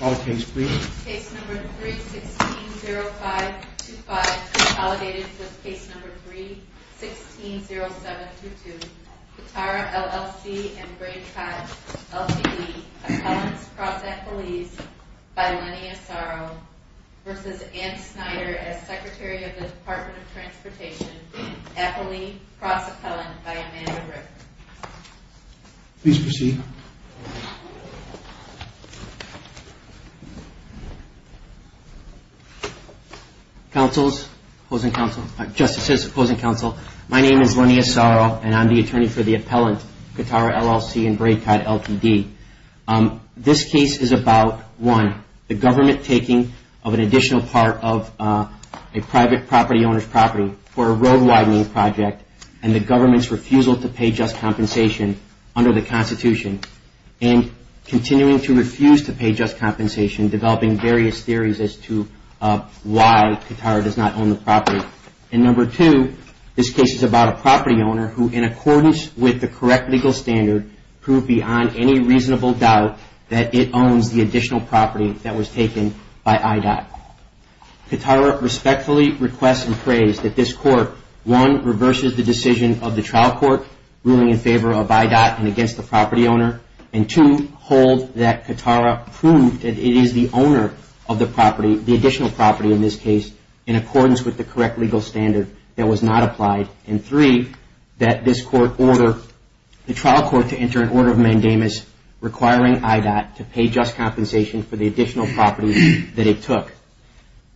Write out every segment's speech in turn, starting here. All case please. Case number 3-16-05-25, consolidated with case number 3-16-07-22. Katara, LLC and Gray Tribe, LTD, appellants cross-appellees by Lenny Asaro v. Ann Schneider as Secretary of the Department of Transportation, appellee cross-appellant by Amanda Ripper. Please proceed. Counsels, opposing counsel, justices, opposing counsel, my name is Lenny Asaro and I'm the attorney for the appellant Katara, LLC and Gray Tribe, LTD. This case is about, one, the government taking of an additional part of a private property owner's property for a road widening project and the government's refusal to pay just compensation under the Constitution and continuing to refuse to pay just compensation, developing various theories as to why Katara does not own the property. And number two, this case is about a property owner who, in accordance with the correct legal standard, proved beyond any reasonable doubt that it owns the additional property that was taken by IDOT. Katara respectfully requests and prays that this court, one, reverses the decision of the trial court ruling in favor of IDOT and against the property owner, and two, hold that Katara proved that it is the owner of the property, the additional property in this case, in accordance with the correct legal standard that was not applied, and three, that this court order the trial court to enter an order of mandamus requiring IDOT to pay just compensation for the additional property that it took.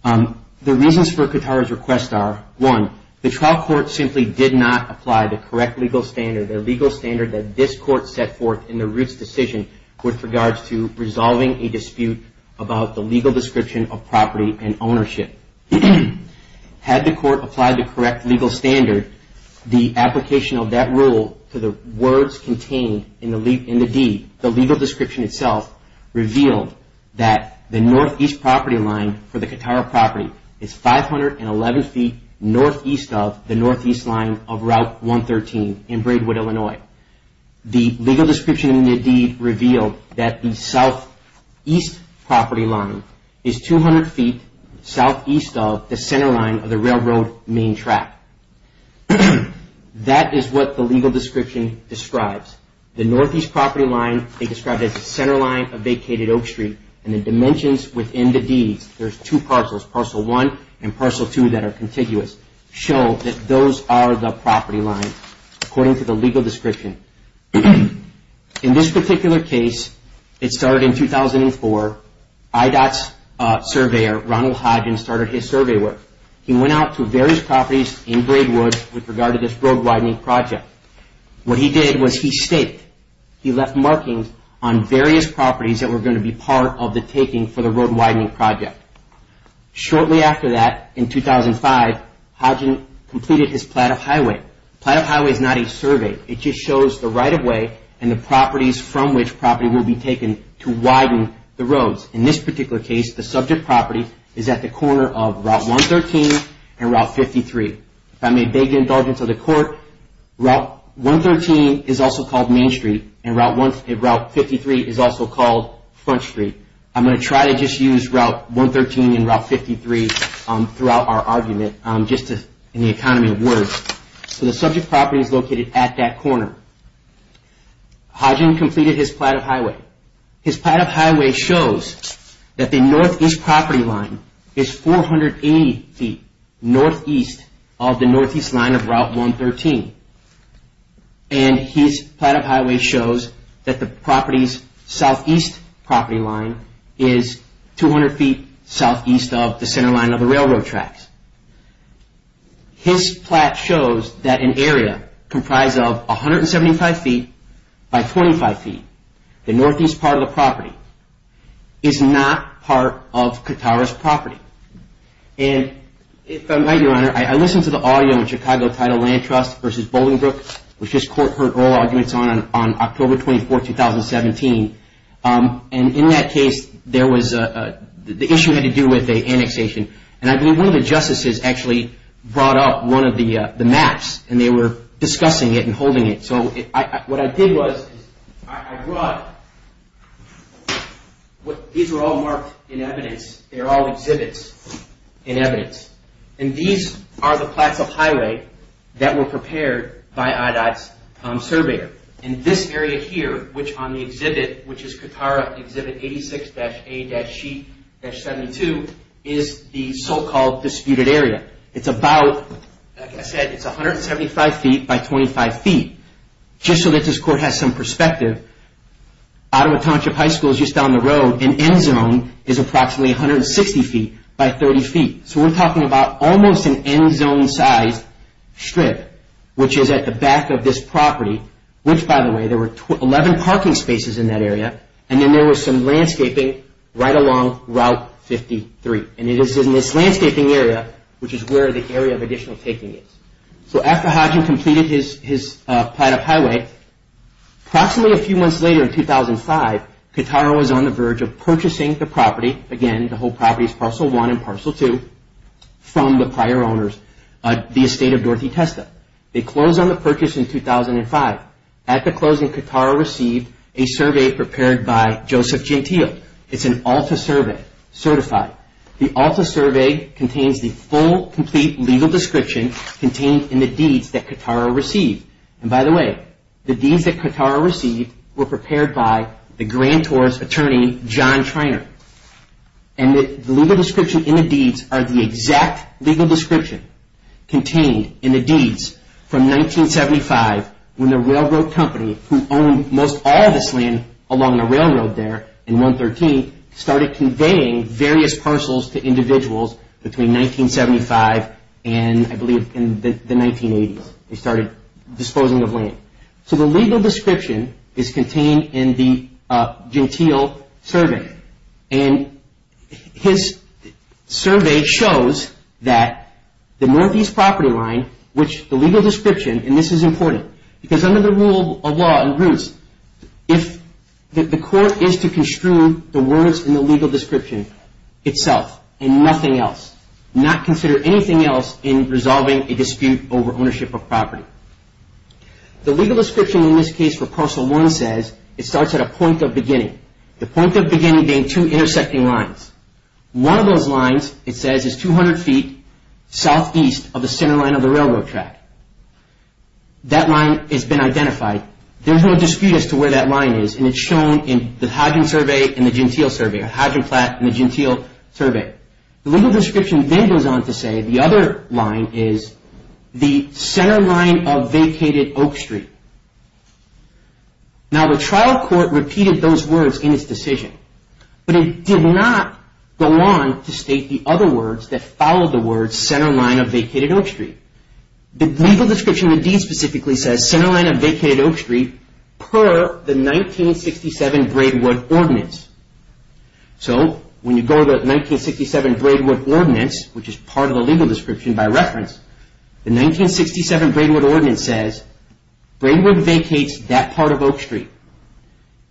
The reasons for Katara's request are, one, the trial court simply did not apply the correct legal standard, the legal standard that this court set forth in the Roots decision with regards to resolving a dispute about the legal description of property and ownership. Had the court applied the correct legal standard, the application of that rule to the words contained in the deed, the legal description itself, revealed that the northeast property line for the Katara property is 511 feet northeast of the northeast line of Route 113 in Braidwood, Illinois. The legal description in the deed revealed that the southeast property line is 200 feet southeast of the center line of the railroad main track. That is what the legal description describes. The northeast property line they described as the center line of vacated Oak Street, and the dimensions within the deeds, there's two parcels, parcel one and parcel two that are contiguous, show that those are the property lines according to the legal description. In this particular case, it started in 2004. IDOT's surveyor, Ronald Hodgen, started his survey work. He went out to various properties in Braidwood with regard to this road widening project. What he did was he staked. He left markings on various properties that were going to be part of the taking for the road widening project. Shortly after that, in 2005, Hodgen completed his plat of highway. Plat of highway is not a survey. It just shows the right of way and the properties from which property will be taken to widen the roads. In this particular case, the subject property is at the corner of Route 113 and Route 53. If I may beg the indulgence of the court, Route 113 is also called Main Street, and Route 53 is also called Front Street. I'm going to try to just use Route 113 and Route 53 throughout our argument just in the economy of words. The subject property is located at that corner. Hodgen completed his plat of highway. His plat of highway shows that the northeast property line is 480 feet northeast of the northeast line of Route 113. His plat of highway shows that the property's southeast property line is 200 feet southeast of the center line of the railroad tracks. His plat shows that an area comprised of 175 feet by 25 feet, the northeast part of the property, is not part of Katara's property. If I might, Your Honor, I listened to the audio in Chicago titled Land Trust versus Bolingbrook, which this court heard oral arguments on October 24, 2017. In that case, the issue had to do with annexation. I believe one of the justices actually brought up one of the maps, and they were discussing it and holding it. What I did was I brought – these were all marked in evidence. They're all exhibits in evidence. These are the plats of highway that were prepared by IDOT's surveyor. This area here, which on the exhibit, which is Katara Exhibit 86-A-C-72, is the so-called disputed area. It's about, like I said, it's 175 feet by 25 feet. Just so that this court has some perspective, Ottawa Township High School is just down the road. An end zone is approximately 160 feet by 30 feet. So we're talking about almost an end zone-sized strip, which is at the back of this property, which, by the way, there were 11 parking spaces in that area, and then there was some landscaping right along Route 53. It is in this landscaping area, which is where the area of additional taking is. So after Hodgin completed his plat of highway, approximately a few months later in 2005, Katara was on the verge of purchasing the property – again, the whole property is Parcel 1 and Parcel 2 – from the prior owners, the estate of Dorothy Testa. They closed on the purchase in 2005. At the closing, Katara received a survey prepared by Joseph Gentile. It's an ALTA survey, certified. The ALTA survey contains the full, complete legal description contained in the deeds that Katara received. And by the way, the deeds that Katara received were prepared by the Grand Tours attorney, John Treynor. And the legal description in the deeds are the exact legal description contained in the deeds from 1975 when the railroad company, who owned most all of this land along the railroad there in 113, started conveying various parcels to individuals between 1975 and, I believe, in the 1980s. They started disposing of land. So the legal description is contained in the Gentile survey. And his survey shows that the Northeast property line, which the legal description, and this is important, because under the rule of law in Roots, if the court is to construe the words in the legal description itself and nothing else, not consider anything else in resolving a dispute over ownership of property. The legal description in this case for Parcel 1 says it starts at a point of beginning. The point of beginning being two intersecting lines. One of those lines, it says, is 200 feet southeast of the center line of the railroad track. That line has been identified. There's no dispute as to where that line is, and it's shown in the Hadgen survey and the Gentile survey, or Hadgen-Platt and the Gentile survey. The legal description then goes on to say the other line is the center line of vacated Oak Street. Now, the trial court repeated those words in its decision, but it did not go on to state the other words that followed the words center line of vacated Oak Street. The legal description indeed specifically says center line of vacated Oak Street per the 1967 Braidwood Ordinance. So when you go to the 1967 Braidwood Ordinance, which is part of the legal description by reference, the 1967 Braidwood Ordinance says Braidwood vacates that part of Oak Street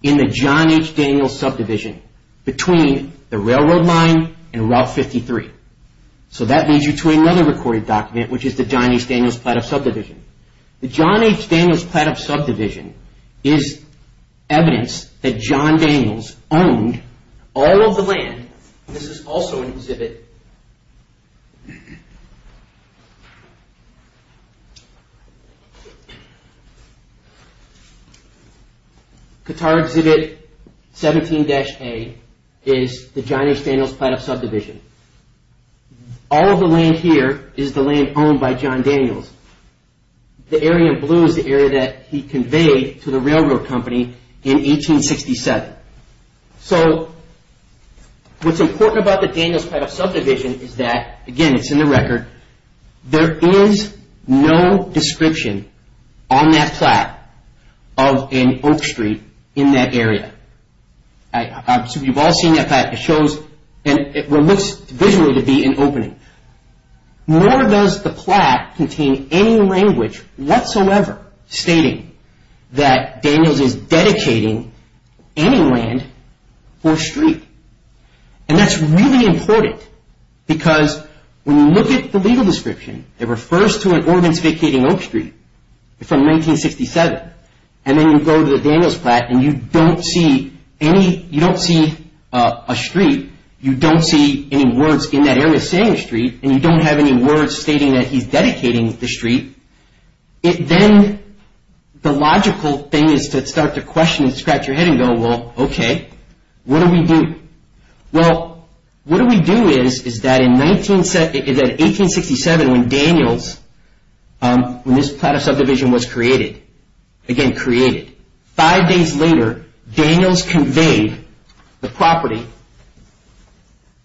in the John H. Daniels subdivision between the railroad line and Route 53. So that leads you to another recorded document, which is the John H. Daniels Platthouse subdivision. The John H. Daniels Platthouse subdivision is evidence that John Daniels owned all of the land. This is also an exhibit. Qatar Exhibit 17-A is the John H. Daniels Platthouse subdivision. All of the land here is the land owned by John Daniels. The area in blue is the area that he conveyed to the railroad company in 1867. So what's important about the Daniels Platthouse subdivision is that, again, it's in the record, there is no description on that plaque of an Oak Street in that area. You've all seen that plaque. It looks visually to be an opening. Nor does the plaque contain any language whatsoever stating that Daniels is dedicating any land or street. And that's really important because when you look at the legal description, it refers to an ordinance vacating Oak Street from 1967. And then you go to the Daniels Platt and you don't see a street. You don't see any words in that area saying street and you don't have any words stating that he's dedicating the street. Then the logical thing is to start to question and scratch your head and go, well, okay, what do we do? Well, what do we do is that in 1867 when Daniels, when this Platthouse subdivision was created, five days later Daniels conveyed the property,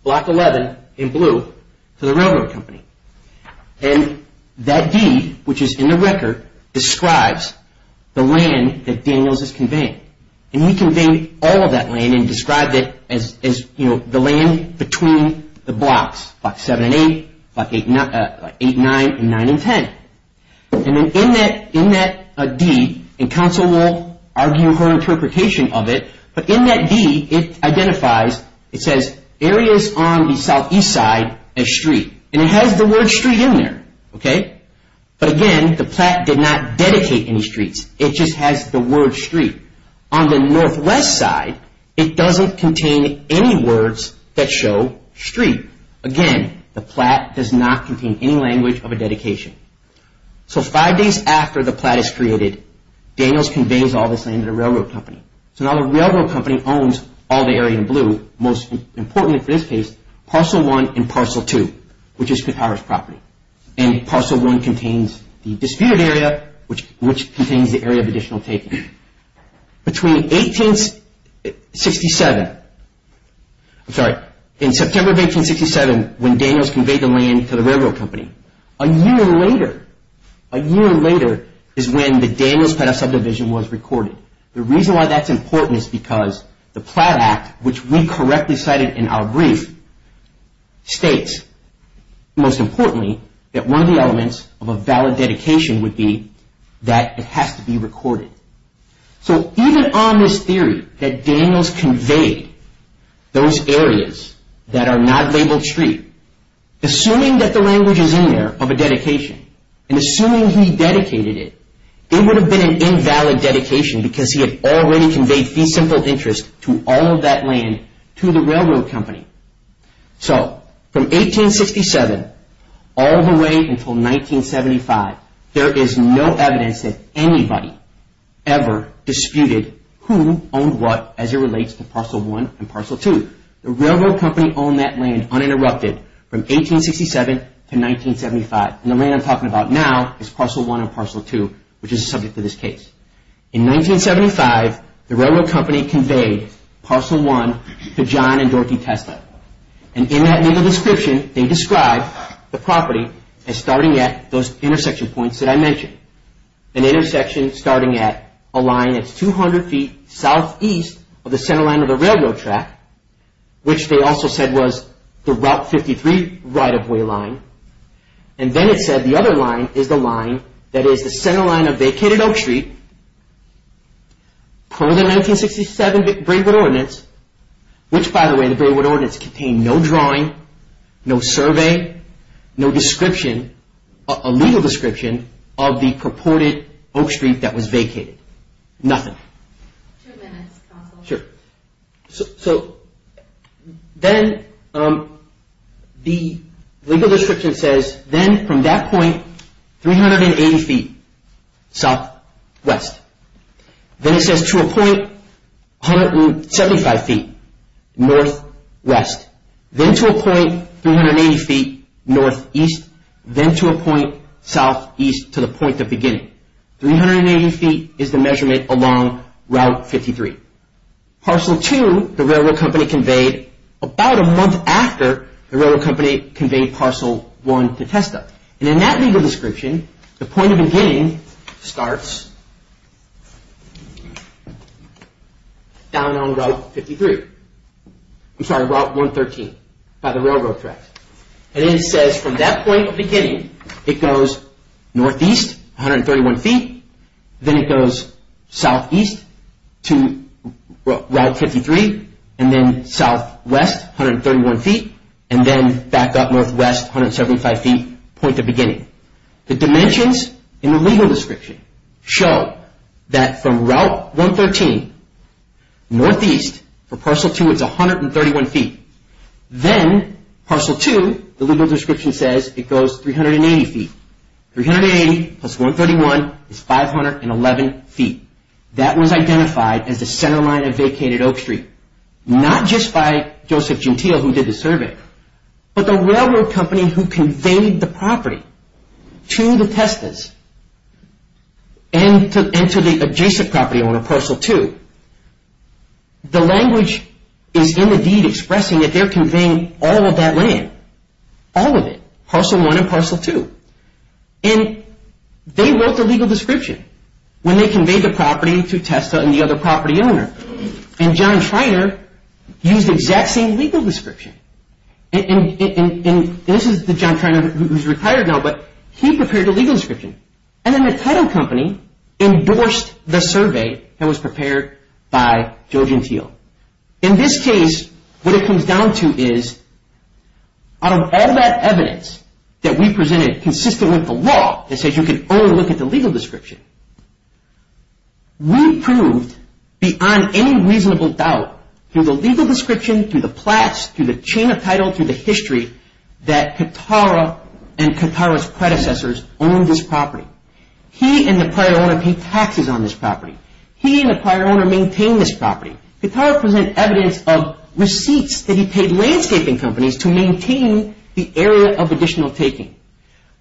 Block 11 in blue, to the railroad company. And that deed, which is in the record, describes the land that Daniels has conveyed. And he conveyed all of that land and described it as the land between the blocks, Block 7 and 8, Block 8 and 9, and 9 and 10. And then in that deed, and counsel will argue her interpretation of it, but in that deed it identifies, it says areas on the southeast side as street. And it has the word street in there, okay? But again, the Platt did not dedicate any streets. It just has the word street. On the northwest side, it doesn't contain any words that show street. Again, the Platt does not contain any language of a dedication. So five days after the Platt is created, Daniels conveys all this land to the railroad company. So now the railroad company owns all the area in blue, most importantly for this case, Parcel 1 and Parcel 2, which is McHarris' property. And Parcel 1 contains the disputed area, which contains the area of additional taking. Between 1867, I'm sorry, in September of 1867, when Daniels conveyed the land to the railroad company, a year later, a year later is when the Daniels Platt subdivision was recorded. The reason why that's important is because the Platt Act, which we correctly cited in our brief, states, most importantly, that one of the elements of a valid dedication would be that it has to be recorded. So even on this theory that Daniels conveyed those areas that are not labeled street, assuming that the language is in there of a dedication, and assuming he dedicated it, it would have been an invalid dedication because he had already conveyed the simple interest to all of that land to the railroad company. So from 1867 all the way until 1975, there is no evidence that anybody ever disputed who owned what as it relates to Parcel 1 and Parcel 2. The railroad company owned that land uninterrupted from 1867 to 1975. And the land I'm talking about now is Parcel 1 and Parcel 2, which is the subject of this case. In 1975, the railroad company conveyed Parcel 1 to John and Dorothy Tesla. And in that legal description, they describe the property as starting at those intersection points that I mentioned. An intersection starting at a line that's 200 feet southeast of the centerline of the railroad track, which they also said was the Route 53 right-of-way line. And then it said the other line is the line that is the centerline of vacated Oak Street per the 1967 Braidwood Ordinance, which by the way, the Braidwood Ordinance contained no drawing, no survey, no description, a legal description of the purported Oak Street that was vacated. Nothing. Two minutes, counsel. Sure. So, then the legal description says, then from that point, 380 feet southwest. Then it says to a point 175 feet northwest. Then to a point 380 feet northeast. Then to a point southeast to the point of beginning. 380 feet is the measurement along Route 53. Parcel 2, the railroad company conveyed about a month after the railroad company conveyed Parcel 1 to Tesla. And in that legal description, the point of beginning starts down on Route 53. I'm sorry, Route 113 by the railroad track. And then it says from that point of beginning, it goes northeast, 131 feet. Then it goes southeast to Route 53. And then southwest, 131 feet. And then back up northwest, 175 feet, point of beginning. The dimensions in the legal description show that from Route 113 northeast for Parcel 2, it's 131 feet. Then Parcel 2, the legal description says it goes 380 feet. 380 plus 131 is 511 feet. That was identified as the centerline of vacated Oak Street, not just by Joseph Gentile who did the survey, but the railroad company who conveyed the property to the Testas and to the adjacent property owner, Parcel 2. The language is indeed expressing that they're conveying all of that land, all of it, Parcel 1 and Parcel 2. And they wrote the legal description when they conveyed the property to Testa and the other property owner. And John Treynor used the exact same legal description. And this is the John Treynor who's retired now, but he prepared the legal description. And then the title company endorsed the survey that was prepared by Joseph Gentile. In this case, what it comes down to is out of all that evidence that we presented consistent with the law that says you can only look at the legal description, we proved beyond any reasonable doubt, through the legal description, through the plats, through the chain of title, through the history, that Katara and Katara's predecessors owned this property. He and the prior owner paid taxes on this property. He and the prior owner maintained this property. Katara presented evidence of receipts that he paid landscaping companies to maintain the area of additional taking.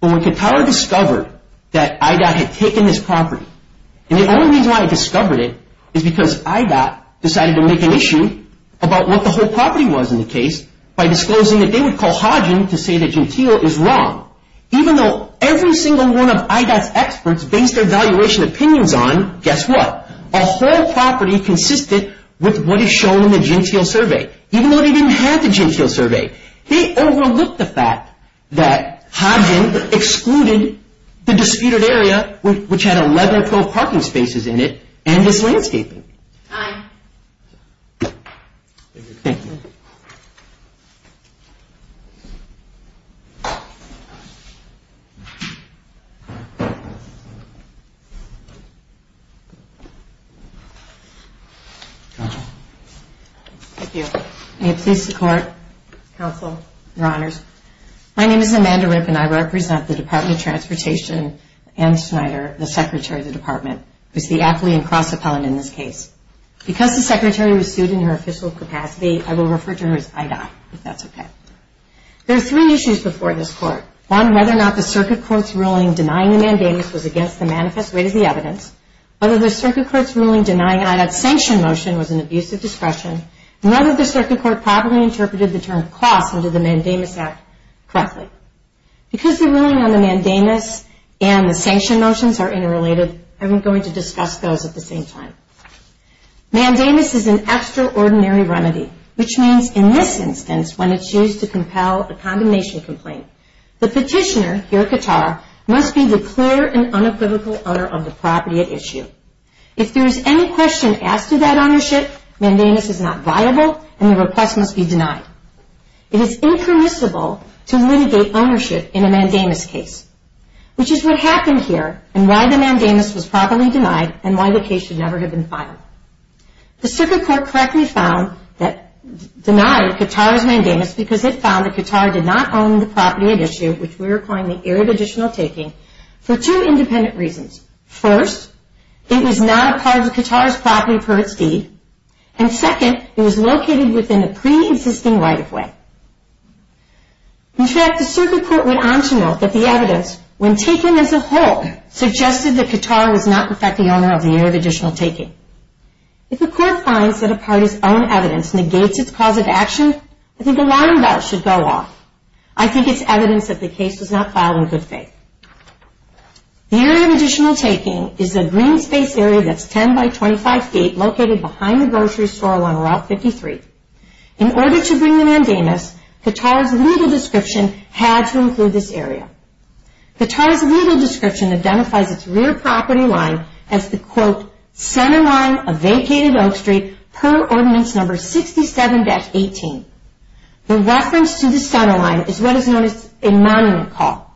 But when Katara discovered that IDOT had taken this property, and the only reason why he discovered it is because IDOT decided to make an issue about what the whole property was in the case by disclosing that they would call Hodgin to say that Gentile is wrong. Even though every single one of IDOT's experts based their valuation opinions on, guess what, a whole property consistent with what is shown in the Gentile survey, even though they didn't have the Gentile survey. They overlooked the fact that Hodgin excluded the disputed area, which had 11 pro parking spaces in it, and its landscaping. Thank you. Thank you. Thank you. May it please the Court, Counsel, Your Honors. My name is Amanda Rip, and I represent the Department of Transportation and Schneider, the Secretary of the Department, who is the athlete and cross-appellant in this case. Because the Secretary was sued in her official capacity, I will refer to her as IDOT, if that's okay. There are three issues before this Court. One, whether or not the Circuit Court's ruling denying the mandamus was against the manifest rate of the evidence, whether the Circuit Court's ruling denying IDOT's sanction motion was an abuse of discretion, and whether the Circuit Court properly interpreted the term cost under the Mandamus Act correctly. Because the ruling on the mandamus and the sanction motions are interrelated, I'm going to discuss those at the same time. Mandamus is an extraordinary remedy, which means, in this instance, when it's used to compel a condemnation complaint, the petitioner, your qatar, must be the clear and unequivocal owner of the property at issue. If there is any question asked of that ownership, mandamus is not viable, and the request must be denied. It is impermissible to litigate ownership in a mandamus case, which is what happened here and why the mandamus was properly denied and why the case should never have been filed. The Circuit Court correctly found that it denied Qatar's mandamus because it found that Qatar did not own the property at issue, which we are calling the arid additional taking, for two independent reasons. First, it was not a part of Qatar's property per its deed. And second, it was located within a pre-existing right-of-way. In fact, the Circuit Court went on to note that the evidence, when taken as a whole, suggested that Qatar was not, in fact, the owner of the arid additional taking. If a court finds that a party's own evidence negates its cause of action, I think the lying belt should go off. I think it's evidence that the case was not filed in good faith. The arid additional taking is a green space area that's 10 by 25 feet located behind the grocery store on Route 53. In order to bring the mandamus, Qatar's legal description had to include this area. Qatar's legal description identifies its rear property line as the, quote, center line of vacated Oak Street per Ordinance No. 67-18. The reference to the center line is what is known as a monument call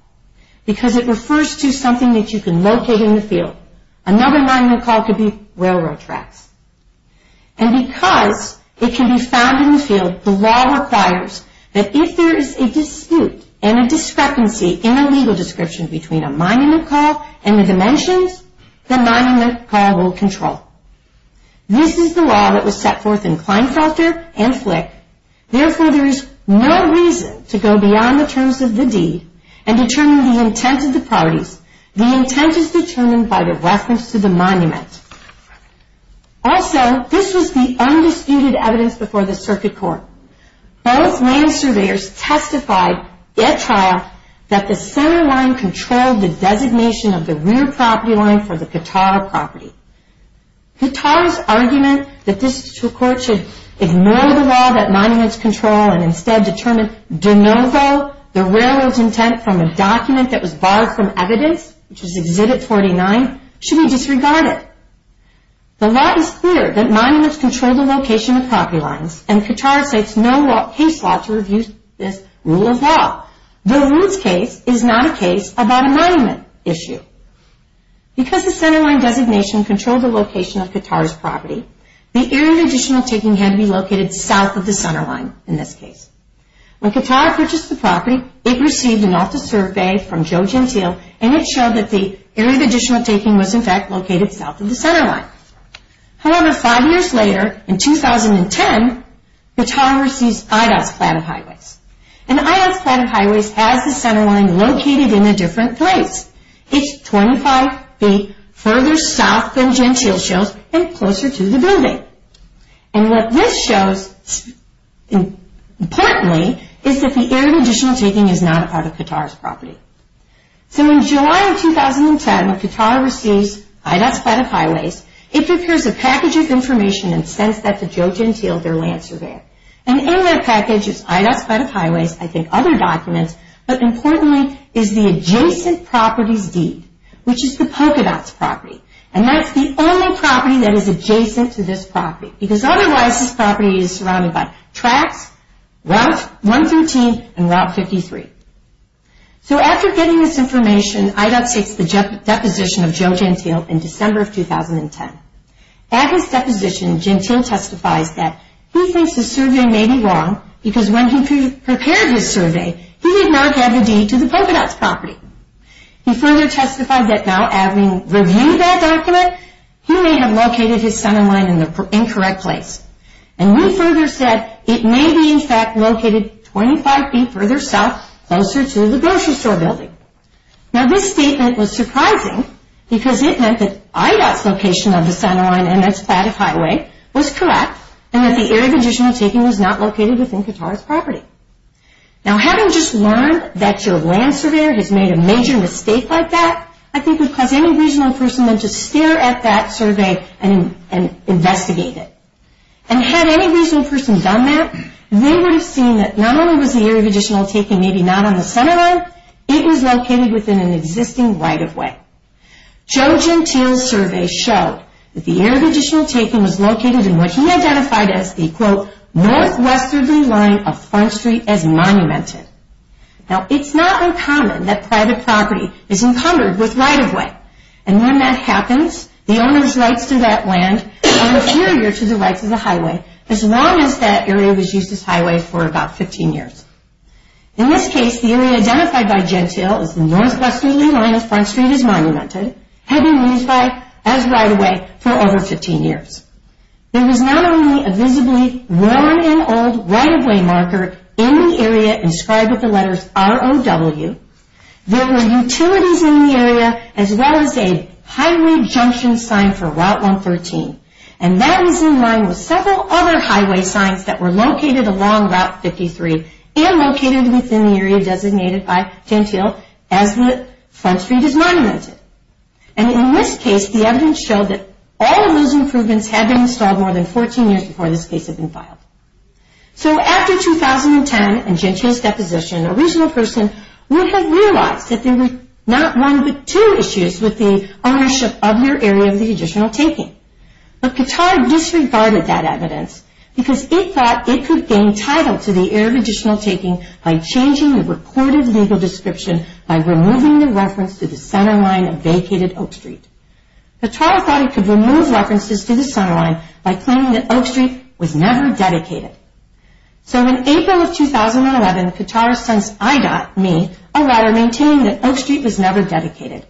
because it refers to something that you can locate in the field. Another monument call could be railroad tracks. And because it can be found in the field, the law requires that if there is a dispute and a discrepancy in the legal description between a monument call and the dimensions, the monument call will control. This is the law that was set forth in Kleinfelter and Flick. Therefore, there is no reason to go beyond the terms of the deed and determine the intent of the properties. The intent is determined by the reference to the monument. Also, this was the undisputed evidence before the circuit court. Both land surveyors testified at trial that the center line controlled the designation of the rear property line for the Qatar property. Qatar's argument that this circuit court should ignore the law that monuments control and instead determine de novo the railroad's intent from a document that was borrowed from evidence, which was Exhibit 49, should be disregarded. The law is clear that monuments control the location of property lines, and Qatar states no case law to review this rule of law. The Lutz case is not a case about a monument issue. Because the center line designation controlled the location of Qatar's property, the area of additional taking had to be located south of the center line in this case. When Qatar purchased the property, it received an off-the-serve bail from Joe Gentile, and it showed that the area of additional taking was, in fact, located south of the center line. However, five years later, in 2010, Qatar received IDOT's plan of highways. And IDOT's plan of highways has the center line located in a different place. It's 25 feet further south than Gentile shows and closer to the building. And what this shows, importantly, is that the area of additional taking is not part of Qatar's property. So in July of 2010, when Qatar receives IDOT's plan of highways, it prepares a package of information and sends that to Joe Gentile, their land surveyor. And in that package is IDOT's plan of highways, I think other documents, but importantly is the adjacent property's deed, which is the polka dot's property. And that's the only property that is adjacent to this property, because otherwise this property is surrounded by tracks, Route 113, and Route 53. So after getting this information, IDOT takes the deposition of Joe Gentile in December of 2010. At his deposition, Gentile testifies that he thinks the survey may be wrong, because when he prepared his survey, he did not have the deed to the polka dot's property. He further testified that now having reviewed that document, he may have located his center line in the incorrect place. And he further said it may be, in fact, located 25 feet further south, closer to the grocery store building. Now this statement was surprising, because it meant that IDOT's location of the center line and its plan of highway was correct, and that the area of additional taking was not located within Qatar's property. Now having just learned that your land surveyor has made a major mistake like that, I think it would cause any regional person to stare at that survey and investigate it. And had any regional person done that, they would have seen that not only was the area of additional taking maybe not on the center line, it was located within an existing right-of-way. Joe Gentile's survey showed that the area of additional taking was located in what he identified as the, quote, northwesterly line of Front Street as monumented. Now it's not uncommon that private property is encumbered with right-of-way. And when that happens, the owner's rights to that land are inferior to the rights of the highway, as long as that area was used as highway for about 15 years. In this case, the area identified by Gentile as the northwesterly line of Front Street as monumented had been used as right-of-way for over 15 years. There was not only a visibly worn and old right-of-way marker in the area inscribed with the letters ROW, there were utilities in the area as well as a highway junction sign for Route 113. And that was in line with several other highway signs that were located along Route 53 and located within the area designated by Gentile as the Front Street as monumented. And in this case, the evidence showed that all of those improvements had been installed more than 14 years before this case had been filed. So after 2010 and Gentile's deposition, a regional person would have realized that there were not one but two issues with the ownership of your area of the additional taking. But Katara disregarded that evidence because it thought it could gain title to the area of additional taking by changing the recorded legal description by removing the reference to the centerline of vacated Oak Street. Katara thought it could remove references to the centerline by claiming that Oak Street was never dedicated. So in April of 2011, Katara sent IDOT me a letter maintaining that Oak Street was never dedicated.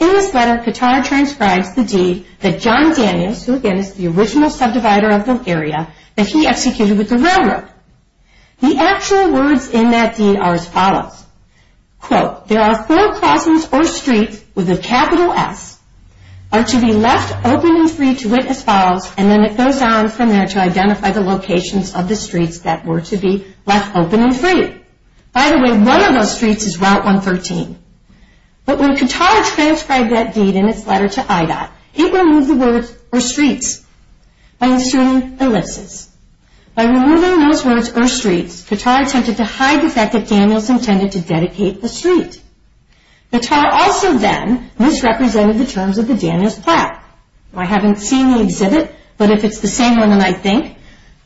In this letter, Katara transcribes the deed that John Daniels, who again is the original subdivider of the area, that he executed with the railroad. The actual words in that deed are as follows. Quote, there are four crossings or streets with a capital S are to be left open and free to witness files and then it goes on from there to identify the locations of the streets that were to be left open and free. By the way, one of those streets is Route 113. But when Katara transcribed that deed in its letter to IDOT, it removed the words or streets by inserting ellipses. By removing those words or streets, Katara attempted to hide the fact that Daniels intended to dedicate the street. Katara also then misrepresented the terms of the Daniels plaque. I haven't seen the exhibit, but if it's the same one than I think,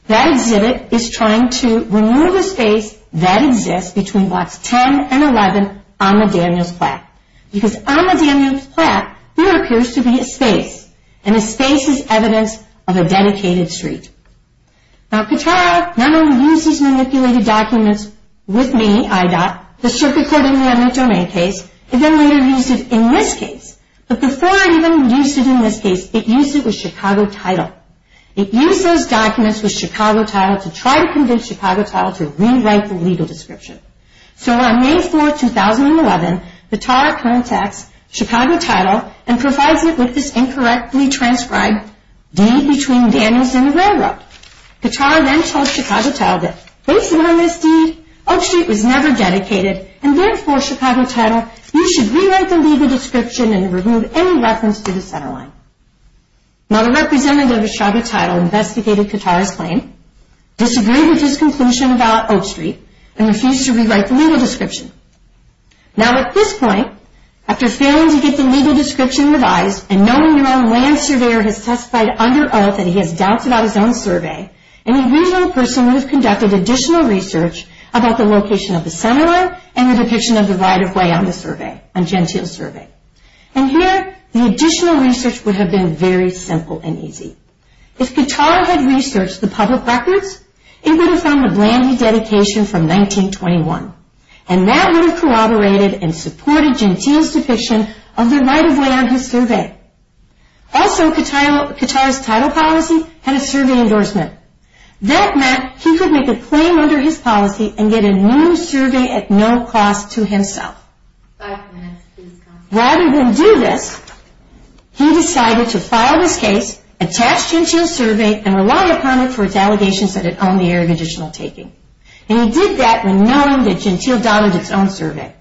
that exhibit is trying to remove a space that exists between blocks 10 and 11 on the Daniels plaque. Because on the Daniels plaque, there appears to be a space. And a space is evidence of a dedicated street. Now Katara not only used these manipulated documents with me, IDOT, the circuit court in the eminent domain case, it then later used it in this case. But before it even used it in this case, it used it with Chicago Title. It used those documents with Chicago Title to try to convince Chicago Title to rewrite the legal description. So on May 4, 2011, Katara contacts Chicago Title and provides it with this incorrectly transcribed deed between Daniels and the railroad. Katara then tells Chicago Title that based on this deed, Oak Street was never dedicated and then forced Chicago Title, you should rewrite the legal description and remove any reference to the centerline. Now the representative of Chicago Title investigated Katara's claim, disagreed with his conclusion about Oak Street, and refused to rewrite the legal description. Now at this point, after failing to get the legal description revised and knowing your own land surveyor has testified under oath that he has doubted out his own survey, an original person would have conducted additional research about the location of the centerline and the depiction of the right-of-way on the survey, on Gentile's survey. And here, the additional research would have been very simple and easy. If Katara had researched the public records, it would have found a bland new dedication from 1921. And that would have corroborated and supported Gentile's depiction of the right-of-way on his survey. Also, Katara's title policy had a survey endorsement. That meant he could make a claim under his policy and get a new survey at no cost to himself. Rather than do this, he decided to file this case, attach Gentile's survey, and rely upon it for its allegations that it owned the area of additional taking. And he did that when knowing that Gentile donned its own survey.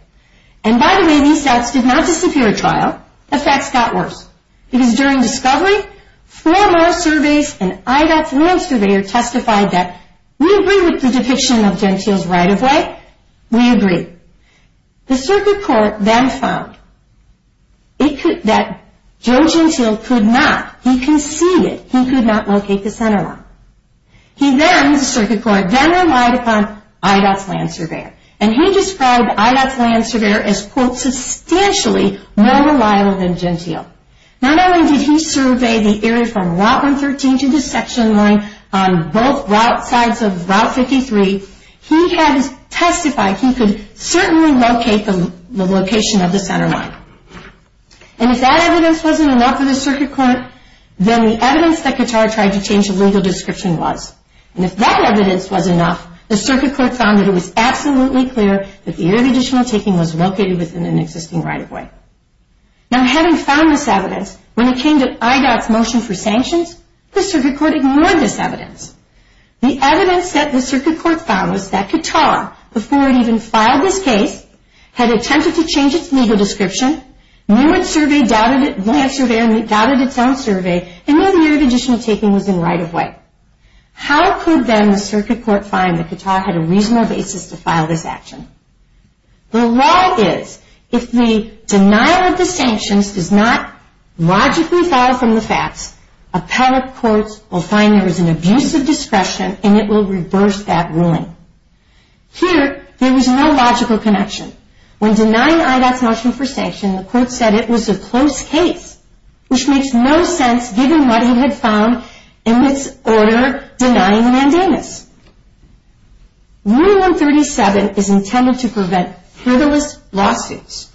And by the way, these stats did not disappear at trial. The facts got worse. Because during discovery, four more surveys and IDOT's land surveyor testified that we agree with the depiction of Gentile's right-of-way. We agree. The circuit court then found that Joe Gentile could not, he conceded, he could not locate the centerline. He then, the circuit court, then relied upon IDOT's land surveyor. And he described IDOT's land surveyor as, quote, substantially more reliable than Gentile. Not only did he survey the area from Route 113 to the section line on both sides of Route 53, he had testified he could certainly locate the location of the centerline. And if that evidence wasn't enough for the circuit court, then the evidence that Katara tried to change the legal description was. And if that evidence was enough, the circuit court found that it was absolutely clear that the area of additional taking was located within an existing right-of-way. Now having found this evidence, when it came to IDOT's motion for sanctions, the circuit court ignored this evidence. The evidence that the circuit court found was that Katara, before it even filed this case, had attempted to change its legal description, knew its survey, doubted its own survey, and knew the area of additional taking was in right-of-way. How could then the circuit court find that Katara had a reasonable basis to file this action? The law is, if the denial of the sanctions does not logically follow from the facts, appellate courts will find there is an abuse of discretion and it will reverse that ruling. Here, there was no logical connection. When denying IDOT's motion for sanctions, the court said it was a close case, which makes no sense given what he had found in its order denying mandamus. Rule 137 is intended to prevent frivolous lawsuits.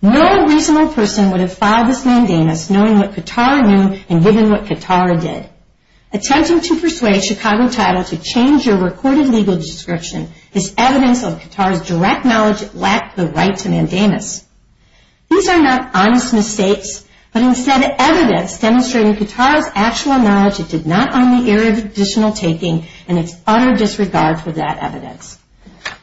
No reasonable person would have filed this mandamus knowing what Katara knew and given what Katara did. Attempting to persuade Chicago Title to change your recorded legal description is evidence of Katara's direct knowledge it lacked the right to mandamus. These are not honest mistakes, but instead evidence demonstrating Katara's actual knowledge it did not own the area of additional taking and its utter disregard for that evidence.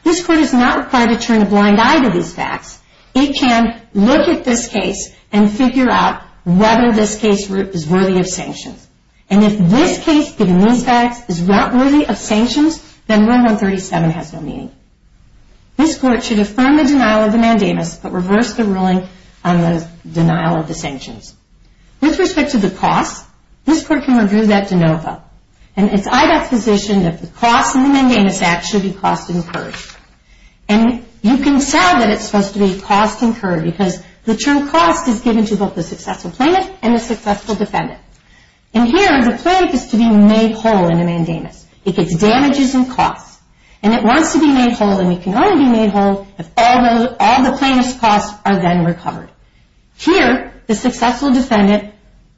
This court is not required to turn a blind eye to these facts. It can look at this case and figure out whether this case is worthy of sanctions. And if this case, given these facts, is not worthy of sanctions, then Rule 137 has no meaning. This court should affirm the denial of the mandamus, but reverse the ruling on the denial of the sanctions. With respect to the cost, this court can review that de novo. And it's IDOT's position that the cost in the Mandamus Act should be cost incurred. And you can say that it's supposed to be cost incurred because the term cost is given to both the successful plaintiff and the successful defendant. And here, the plaintiff is to be made whole in the mandamus. It gets damages and costs. And it wants to be made whole, and it can only be made whole if all the plaintiff's costs are then recovered. Here, the successful defendant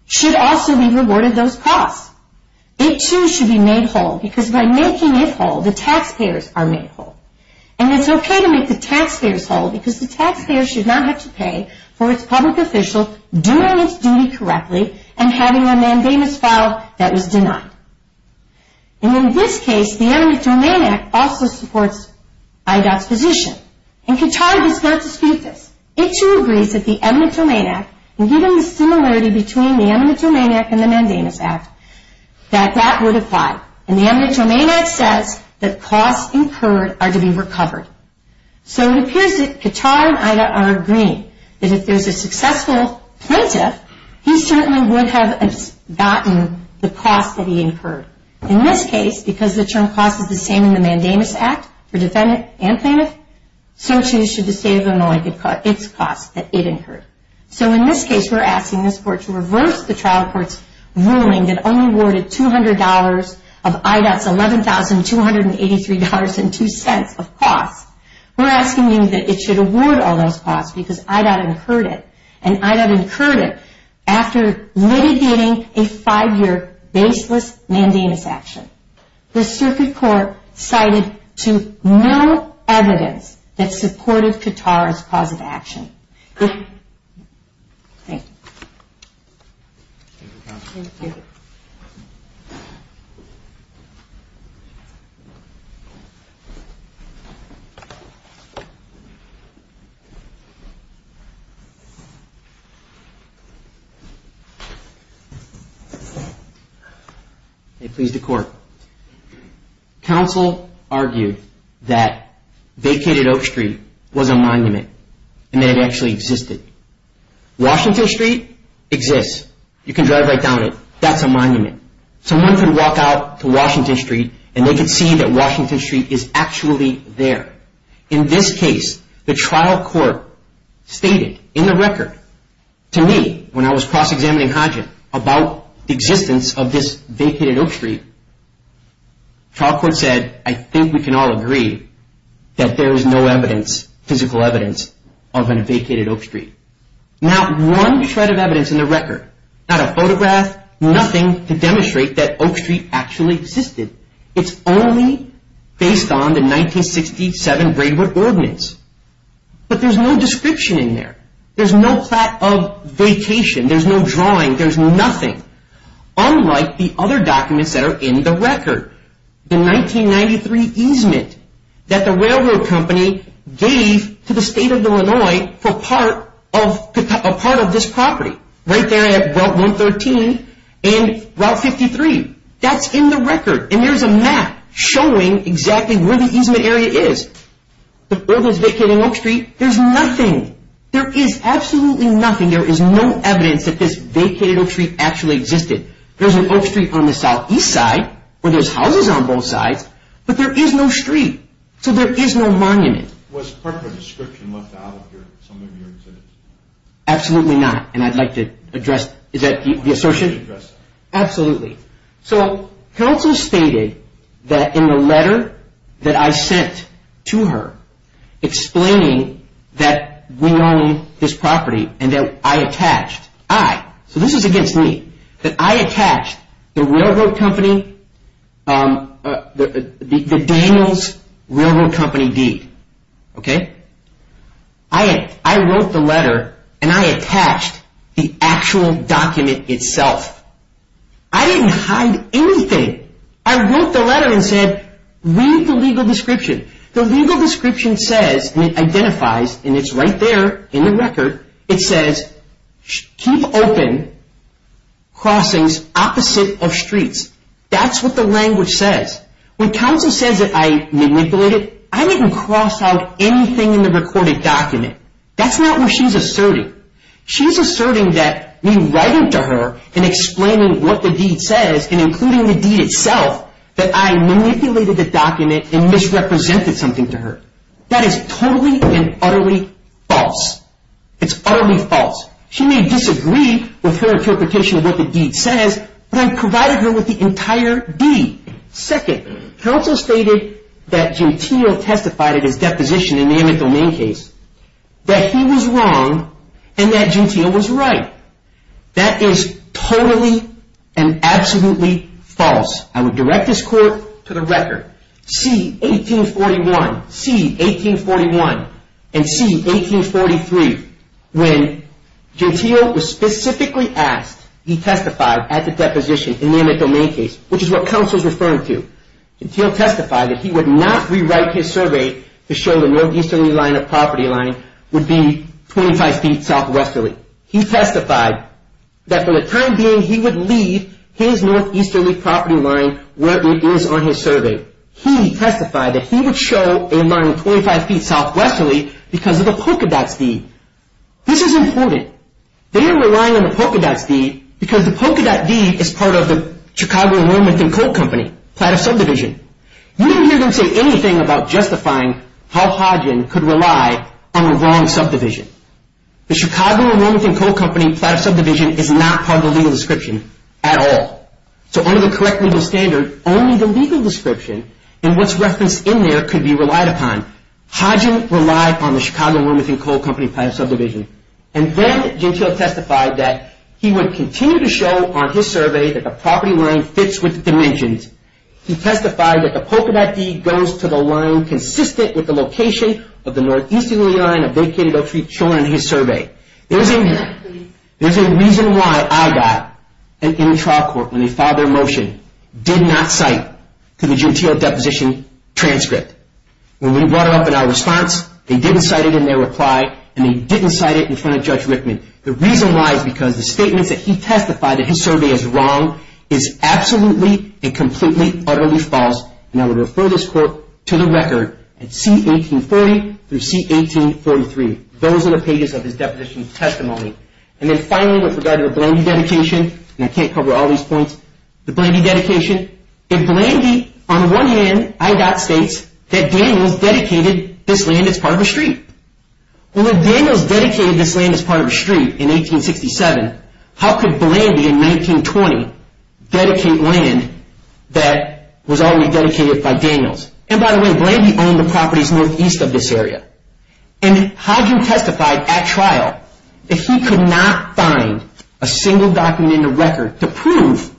should also be rewarded those costs. It, too, should be made whole because by making it whole, the taxpayers are made whole. And it's okay to make the taxpayers whole because the taxpayer should not have to pay for its public official doing its duty correctly and having a mandamus filed that was denied. And in this case, the Eminent Domain Act also supports IDOT's position. And Qatar does not dispute this. It, too, agrees that the Eminent Domain Act, and given the similarity between the Eminent Domain Act and the Mandamus Act, that that would apply. And the Eminent Domain Act says that costs incurred are to be recovered. So it appears that Qatar and IDOT are agreeing that if there's a successful plaintiff, he certainly would have gotten the costs that he incurred. In this case, because the term cost is the same in the Mandamus Act for defendant and plaintiff, so, too, should the State of Illinois get its costs that it incurred. So in this case, we're asking this Court to reverse the trial court's ruling that only awarded $200 of IDOT's $11,283.02 of costs. We're asking you that it should award all those costs because IDOT incurred it. And IDOT incurred it after litigating a five-year baseless mandamus action. The Circuit Court cited to no evidence that supported Qatar's cause of action. Thank you. May it please the Court. Counsel argued that Vacated Oak Street was a monument and that it actually existed. Washington Street exists. You can drive right down it. That's a monument. Someone can walk out to Washington Street, and they can see that Washington Street is actually there. In this case, the trial court stated in the record to me when I was cross-examining Hajat about the existence of this Vacated Oak Street, the trial court said, I think we can all agree that there is no evidence, physical evidence, of a Vacated Oak Street. Not one shred of evidence in the record, not a photograph, nothing to demonstrate that Oak Street actually existed. It's only based on the 1967 Braidwood Ordinance. But there's no description in there. There's no plaque of vacation. There's no drawing. There's nothing. Unlike the other documents that are in the record. The 1993 easement that the railroad company gave to the State of Illinois for part of this property. Right there at Route 113 and Route 53. That's in the record. And there's a map showing exactly where the easement area is. The buildings Vacated Oak Street, there's nothing. There is absolutely nothing. There is no evidence that this Vacated Oak Street actually existed. There's an Oak Street on the southeast side, where there's houses on both sides, but there is no street. So there is no monument. Was part of the description left out of some of your exhibits? Absolutely not. And I'd like to address, is that the associate? Absolutely. So counsel stated that in the letter that I sent to her, explaining that we own this property and that I attached. I, so this is against me. That I attached the railroad company, the Daniels Railroad Company deed. Okay? I wrote the letter and I attached the actual document itself. I didn't hide anything. I wrote the letter and said, read the legal description. The legal description says, and it identifies, and it's right there in the record, it says, keep open crossings opposite of streets. That's what the language says. When counsel says that I manipulated, I didn't cross out anything in the recorded document. That's not what she's asserting. She's asserting that me writing to her and explaining what the deed says and including the deed itself, that I manipulated the document and misrepresented something to her. That is totally and utterly false. It's utterly false. She may disagree with her interpretation of what the deed says, but I provided her with the entire deed. Second, counsel stated that Gentile testified at his deposition in the Emmett Domain case, that he was wrong and that Gentile was right. That is totally and absolutely false. I would direct this court to the record. See 1841. See 1841. And see 1843, when Gentile was specifically asked, he testified at the deposition in the Emmett Domain case, which is what counsel is referring to. Gentile testified that he would not rewrite his survey to show the northeastern line of property line would be 25 feet southwest of it. He testified that for the time being, he would leave his northeasterly property line where it is on his survey. He testified that he would show a line 25 feet southwesterly because of the polka dots deed. This is important. They are relying on the polka dots deed because the polka dot deed is part of the Chicago Enrollment and Coat Company, Platt of Subdivision. You didn't hear them say anything about justifying how Hodgin could rely on the wrong subdivision. The Chicago Enrollment and Coat Company, Platt of Subdivision is not part of the legal description at all. So under the correct legal standard, only the legal description and what's referenced in there could be relied upon. Hodgin relied on the Chicago Enrollment and Coat Company, Platt of Subdivision. And then Gentile testified that he would continue to show on his survey that the property line fits with the dimensions. He testified that the polka dot deed goes to the line consistent with the location of the northeasterly line of Vacated Oak Street Children on his survey. There's a reason why I got an in-trial court when they filed their motion, did not cite to the Gentile deposition transcript. When we brought it up in our response, they didn't cite it in their reply, and they didn't cite it in front of Judge Rickman. The reason why is because the statements that he testified that his survey is wrong is absolutely and completely, utterly false. And I would refer this court to the record at C-1840 through C-1843. Those are the pages of his deposition testimony. And then finally, with regard to the Blandy dedication, and I can't cover all these points, the Blandy dedication. In Blandy, on one hand, IDOT states that Daniels dedicated this land as part of a street. Well, if Daniels dedicated this land as part of a street in 1867, how could Blandy in 1920 dedicate land that was already dedicated by Daniels? And by the way, Blandy owned the properties northeast of this area. And Hodgkin testified at trial that he could not find a single document in the record to prove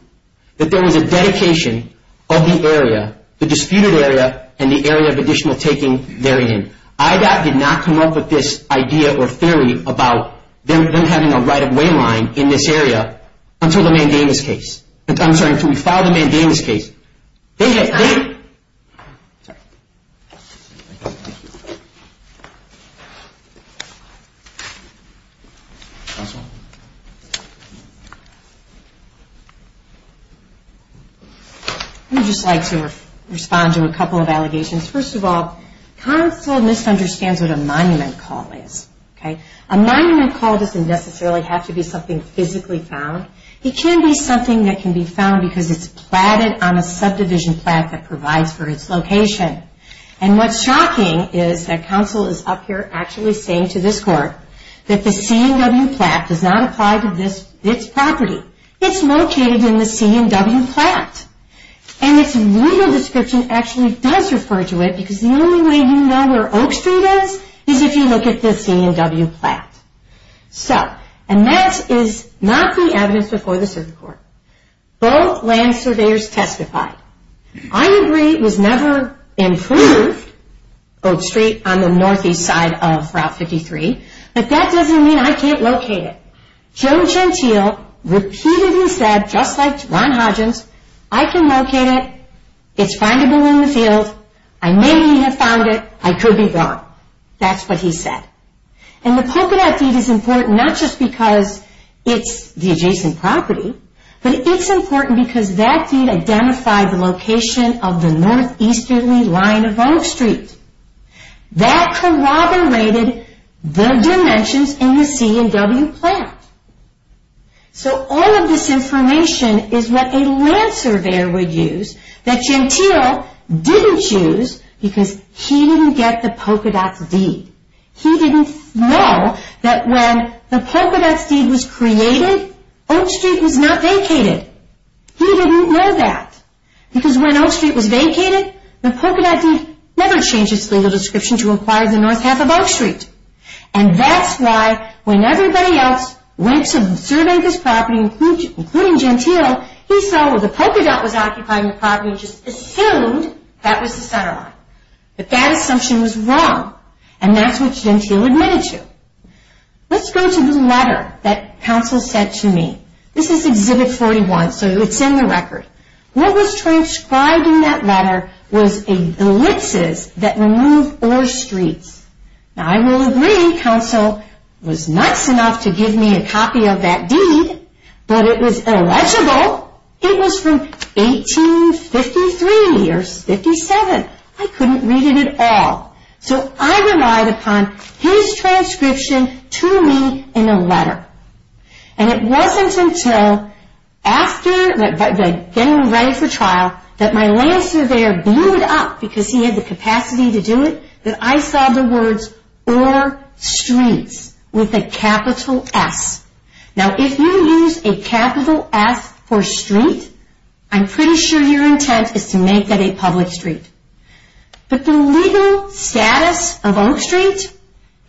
that there was a dedication of the area, the disputed area, and the area of additional taking therein. IDOT did not come up with this idea or theory about them having a right-of-way line in this area until the Mandamus case. I'm sorry, until we filed the Mandamus case. I would just like to respond to a couple of allegations. First of all, counsel misunderstands what a monument call is, okay? A monument call doesn't necessarily have to be something physically found. It can be something that can be found because it's platted on a subdivision plaque that provides for its location. And what's shocking is that counsel is up here actually saying to this court that the C&W plaque does not apply to this property. It's located in the C&W plaque. And its legal description actually does refer to it because the only way you know where Oak Street is is if you look at the C&W plaque. So, and that is not the evidence before the circuit court. Both land surveyors testified. I agree it was never improved, Oak Street, on the northeast side of Route 53, but that doesn't mean I can't locate it. Joe Gentile repeatedly said, just like Ron Hodgins, I can locate it. It's findable in the field. I may have found it. I could be wrong. That's what he said. And the polka dot deed is important not just because it's the adjacent property, but it's important because that deed identified the location of the northeasterly line of Oak Street. That corroborated the dimensions in the C&W plaque. So, all of this information is what a land surveyor would use that Gentile didn't use because he didn't get the polka dot deed. He didn't know that when the polka dot deed was created, Oak Street was not vacated. He didn't know that because when Oak Street was vacated, the polka dot deed never changed its legal description to inquire the north half of Oak Street. And that's why when everybody else went to survey this property, including Gentile, he saw where the polka dot was occupying the property and just assumed that was the center line. But that assumption was wrong. And that's what Gentile admitted to. Let's go to the letter that counsel sent to me. This is Exhibit 41, so it's in the record. What was transcribed in that letter was a glitzes that remove oars streets. Now, I will agree counsel was nice enough to give me a copy of that deed, but it was illegible. It was from 1853 or 57. I couldn't read it at all. So I relied upon his transcription to me in a letter. And it wasn't until after getting ready for trial that my land surveyor blew it up, because he had the capacity to do it, that I saw the words oar streets with a capital S. Now, if you use a capital S for street, I'm pretty sure your intent is to make that a public street. But the legal status of oar streets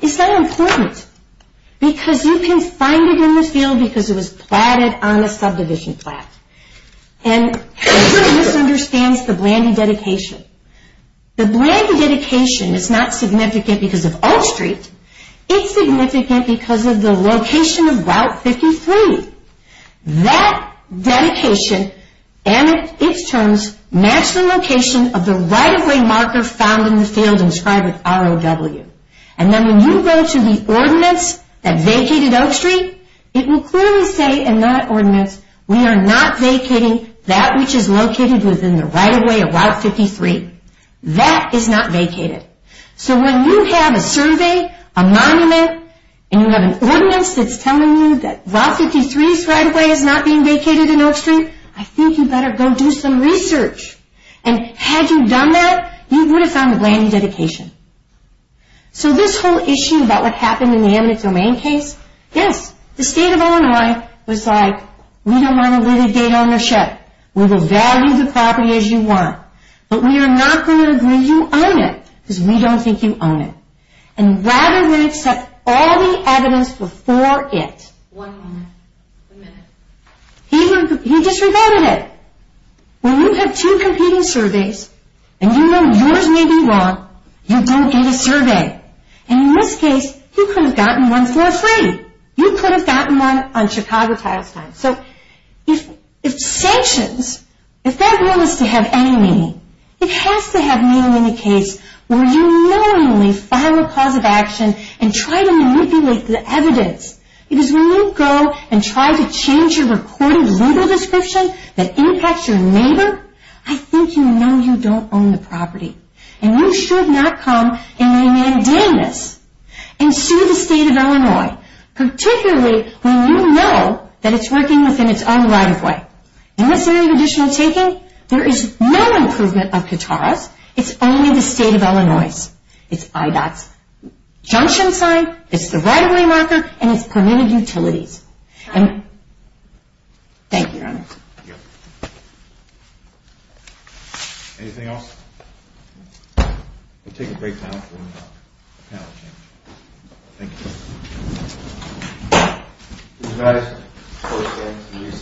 is not important, because you can find it in the field because it was platted on a subdivision plot. And I'm sure he misunderstands the Blandy dedication. The Blandy dedication is not significant because of oar street. It's significant because of the location of Route 53. That dedication and its terms match the location of the right-of-way marker found in the field inscribed with ROW. And then when you go to the ordinance that vacated Oak Street, it will clearly say in that ordinance, we are not vacating that which is located within the right-of-way of Route 53. That is not vacated. So when you have a survey, a monument, and you have an ordinance that's telling you that Route 53 right-of-way is not being vacated in Oak Street, I think you better go do some research. And had you done that, you would have found the Blandy dedication. So this whole issue about what happened in the eminent domain case, yes, the state of Illinois was like, we don't want to leave a date on your shed. We will value the property as you want. But we are not going to agree you own it because we don't think you own it. And rather than accept all the evidence before it, he just revoted it. When you have two competing surveys and you know yours may be wrong, you don't get a survey. And in this case, you could have gotten one for free. You could have gotten one on Chicago Tiles time. So if sanctions, if that will is to have any meaning, it has to have meaning in the case where you knowingly file a cause of action and try to manipulate the evidence. Because when you go and try to change your recorded legal description that impacts your neighbor, I think you know you don't own the property. And you should not come in the eminent domain case and sue the state of Illinois, particularly when you know that it's working within its own right-of-way. And what's the only additional taking? There is no improvement of Katara's. It's only the state of Illinois's. It's IDOT's junction sign, it's the right-of-way marker, and it's permitted utilities. And thank you. Anything else? We'll take a break now. Thank you.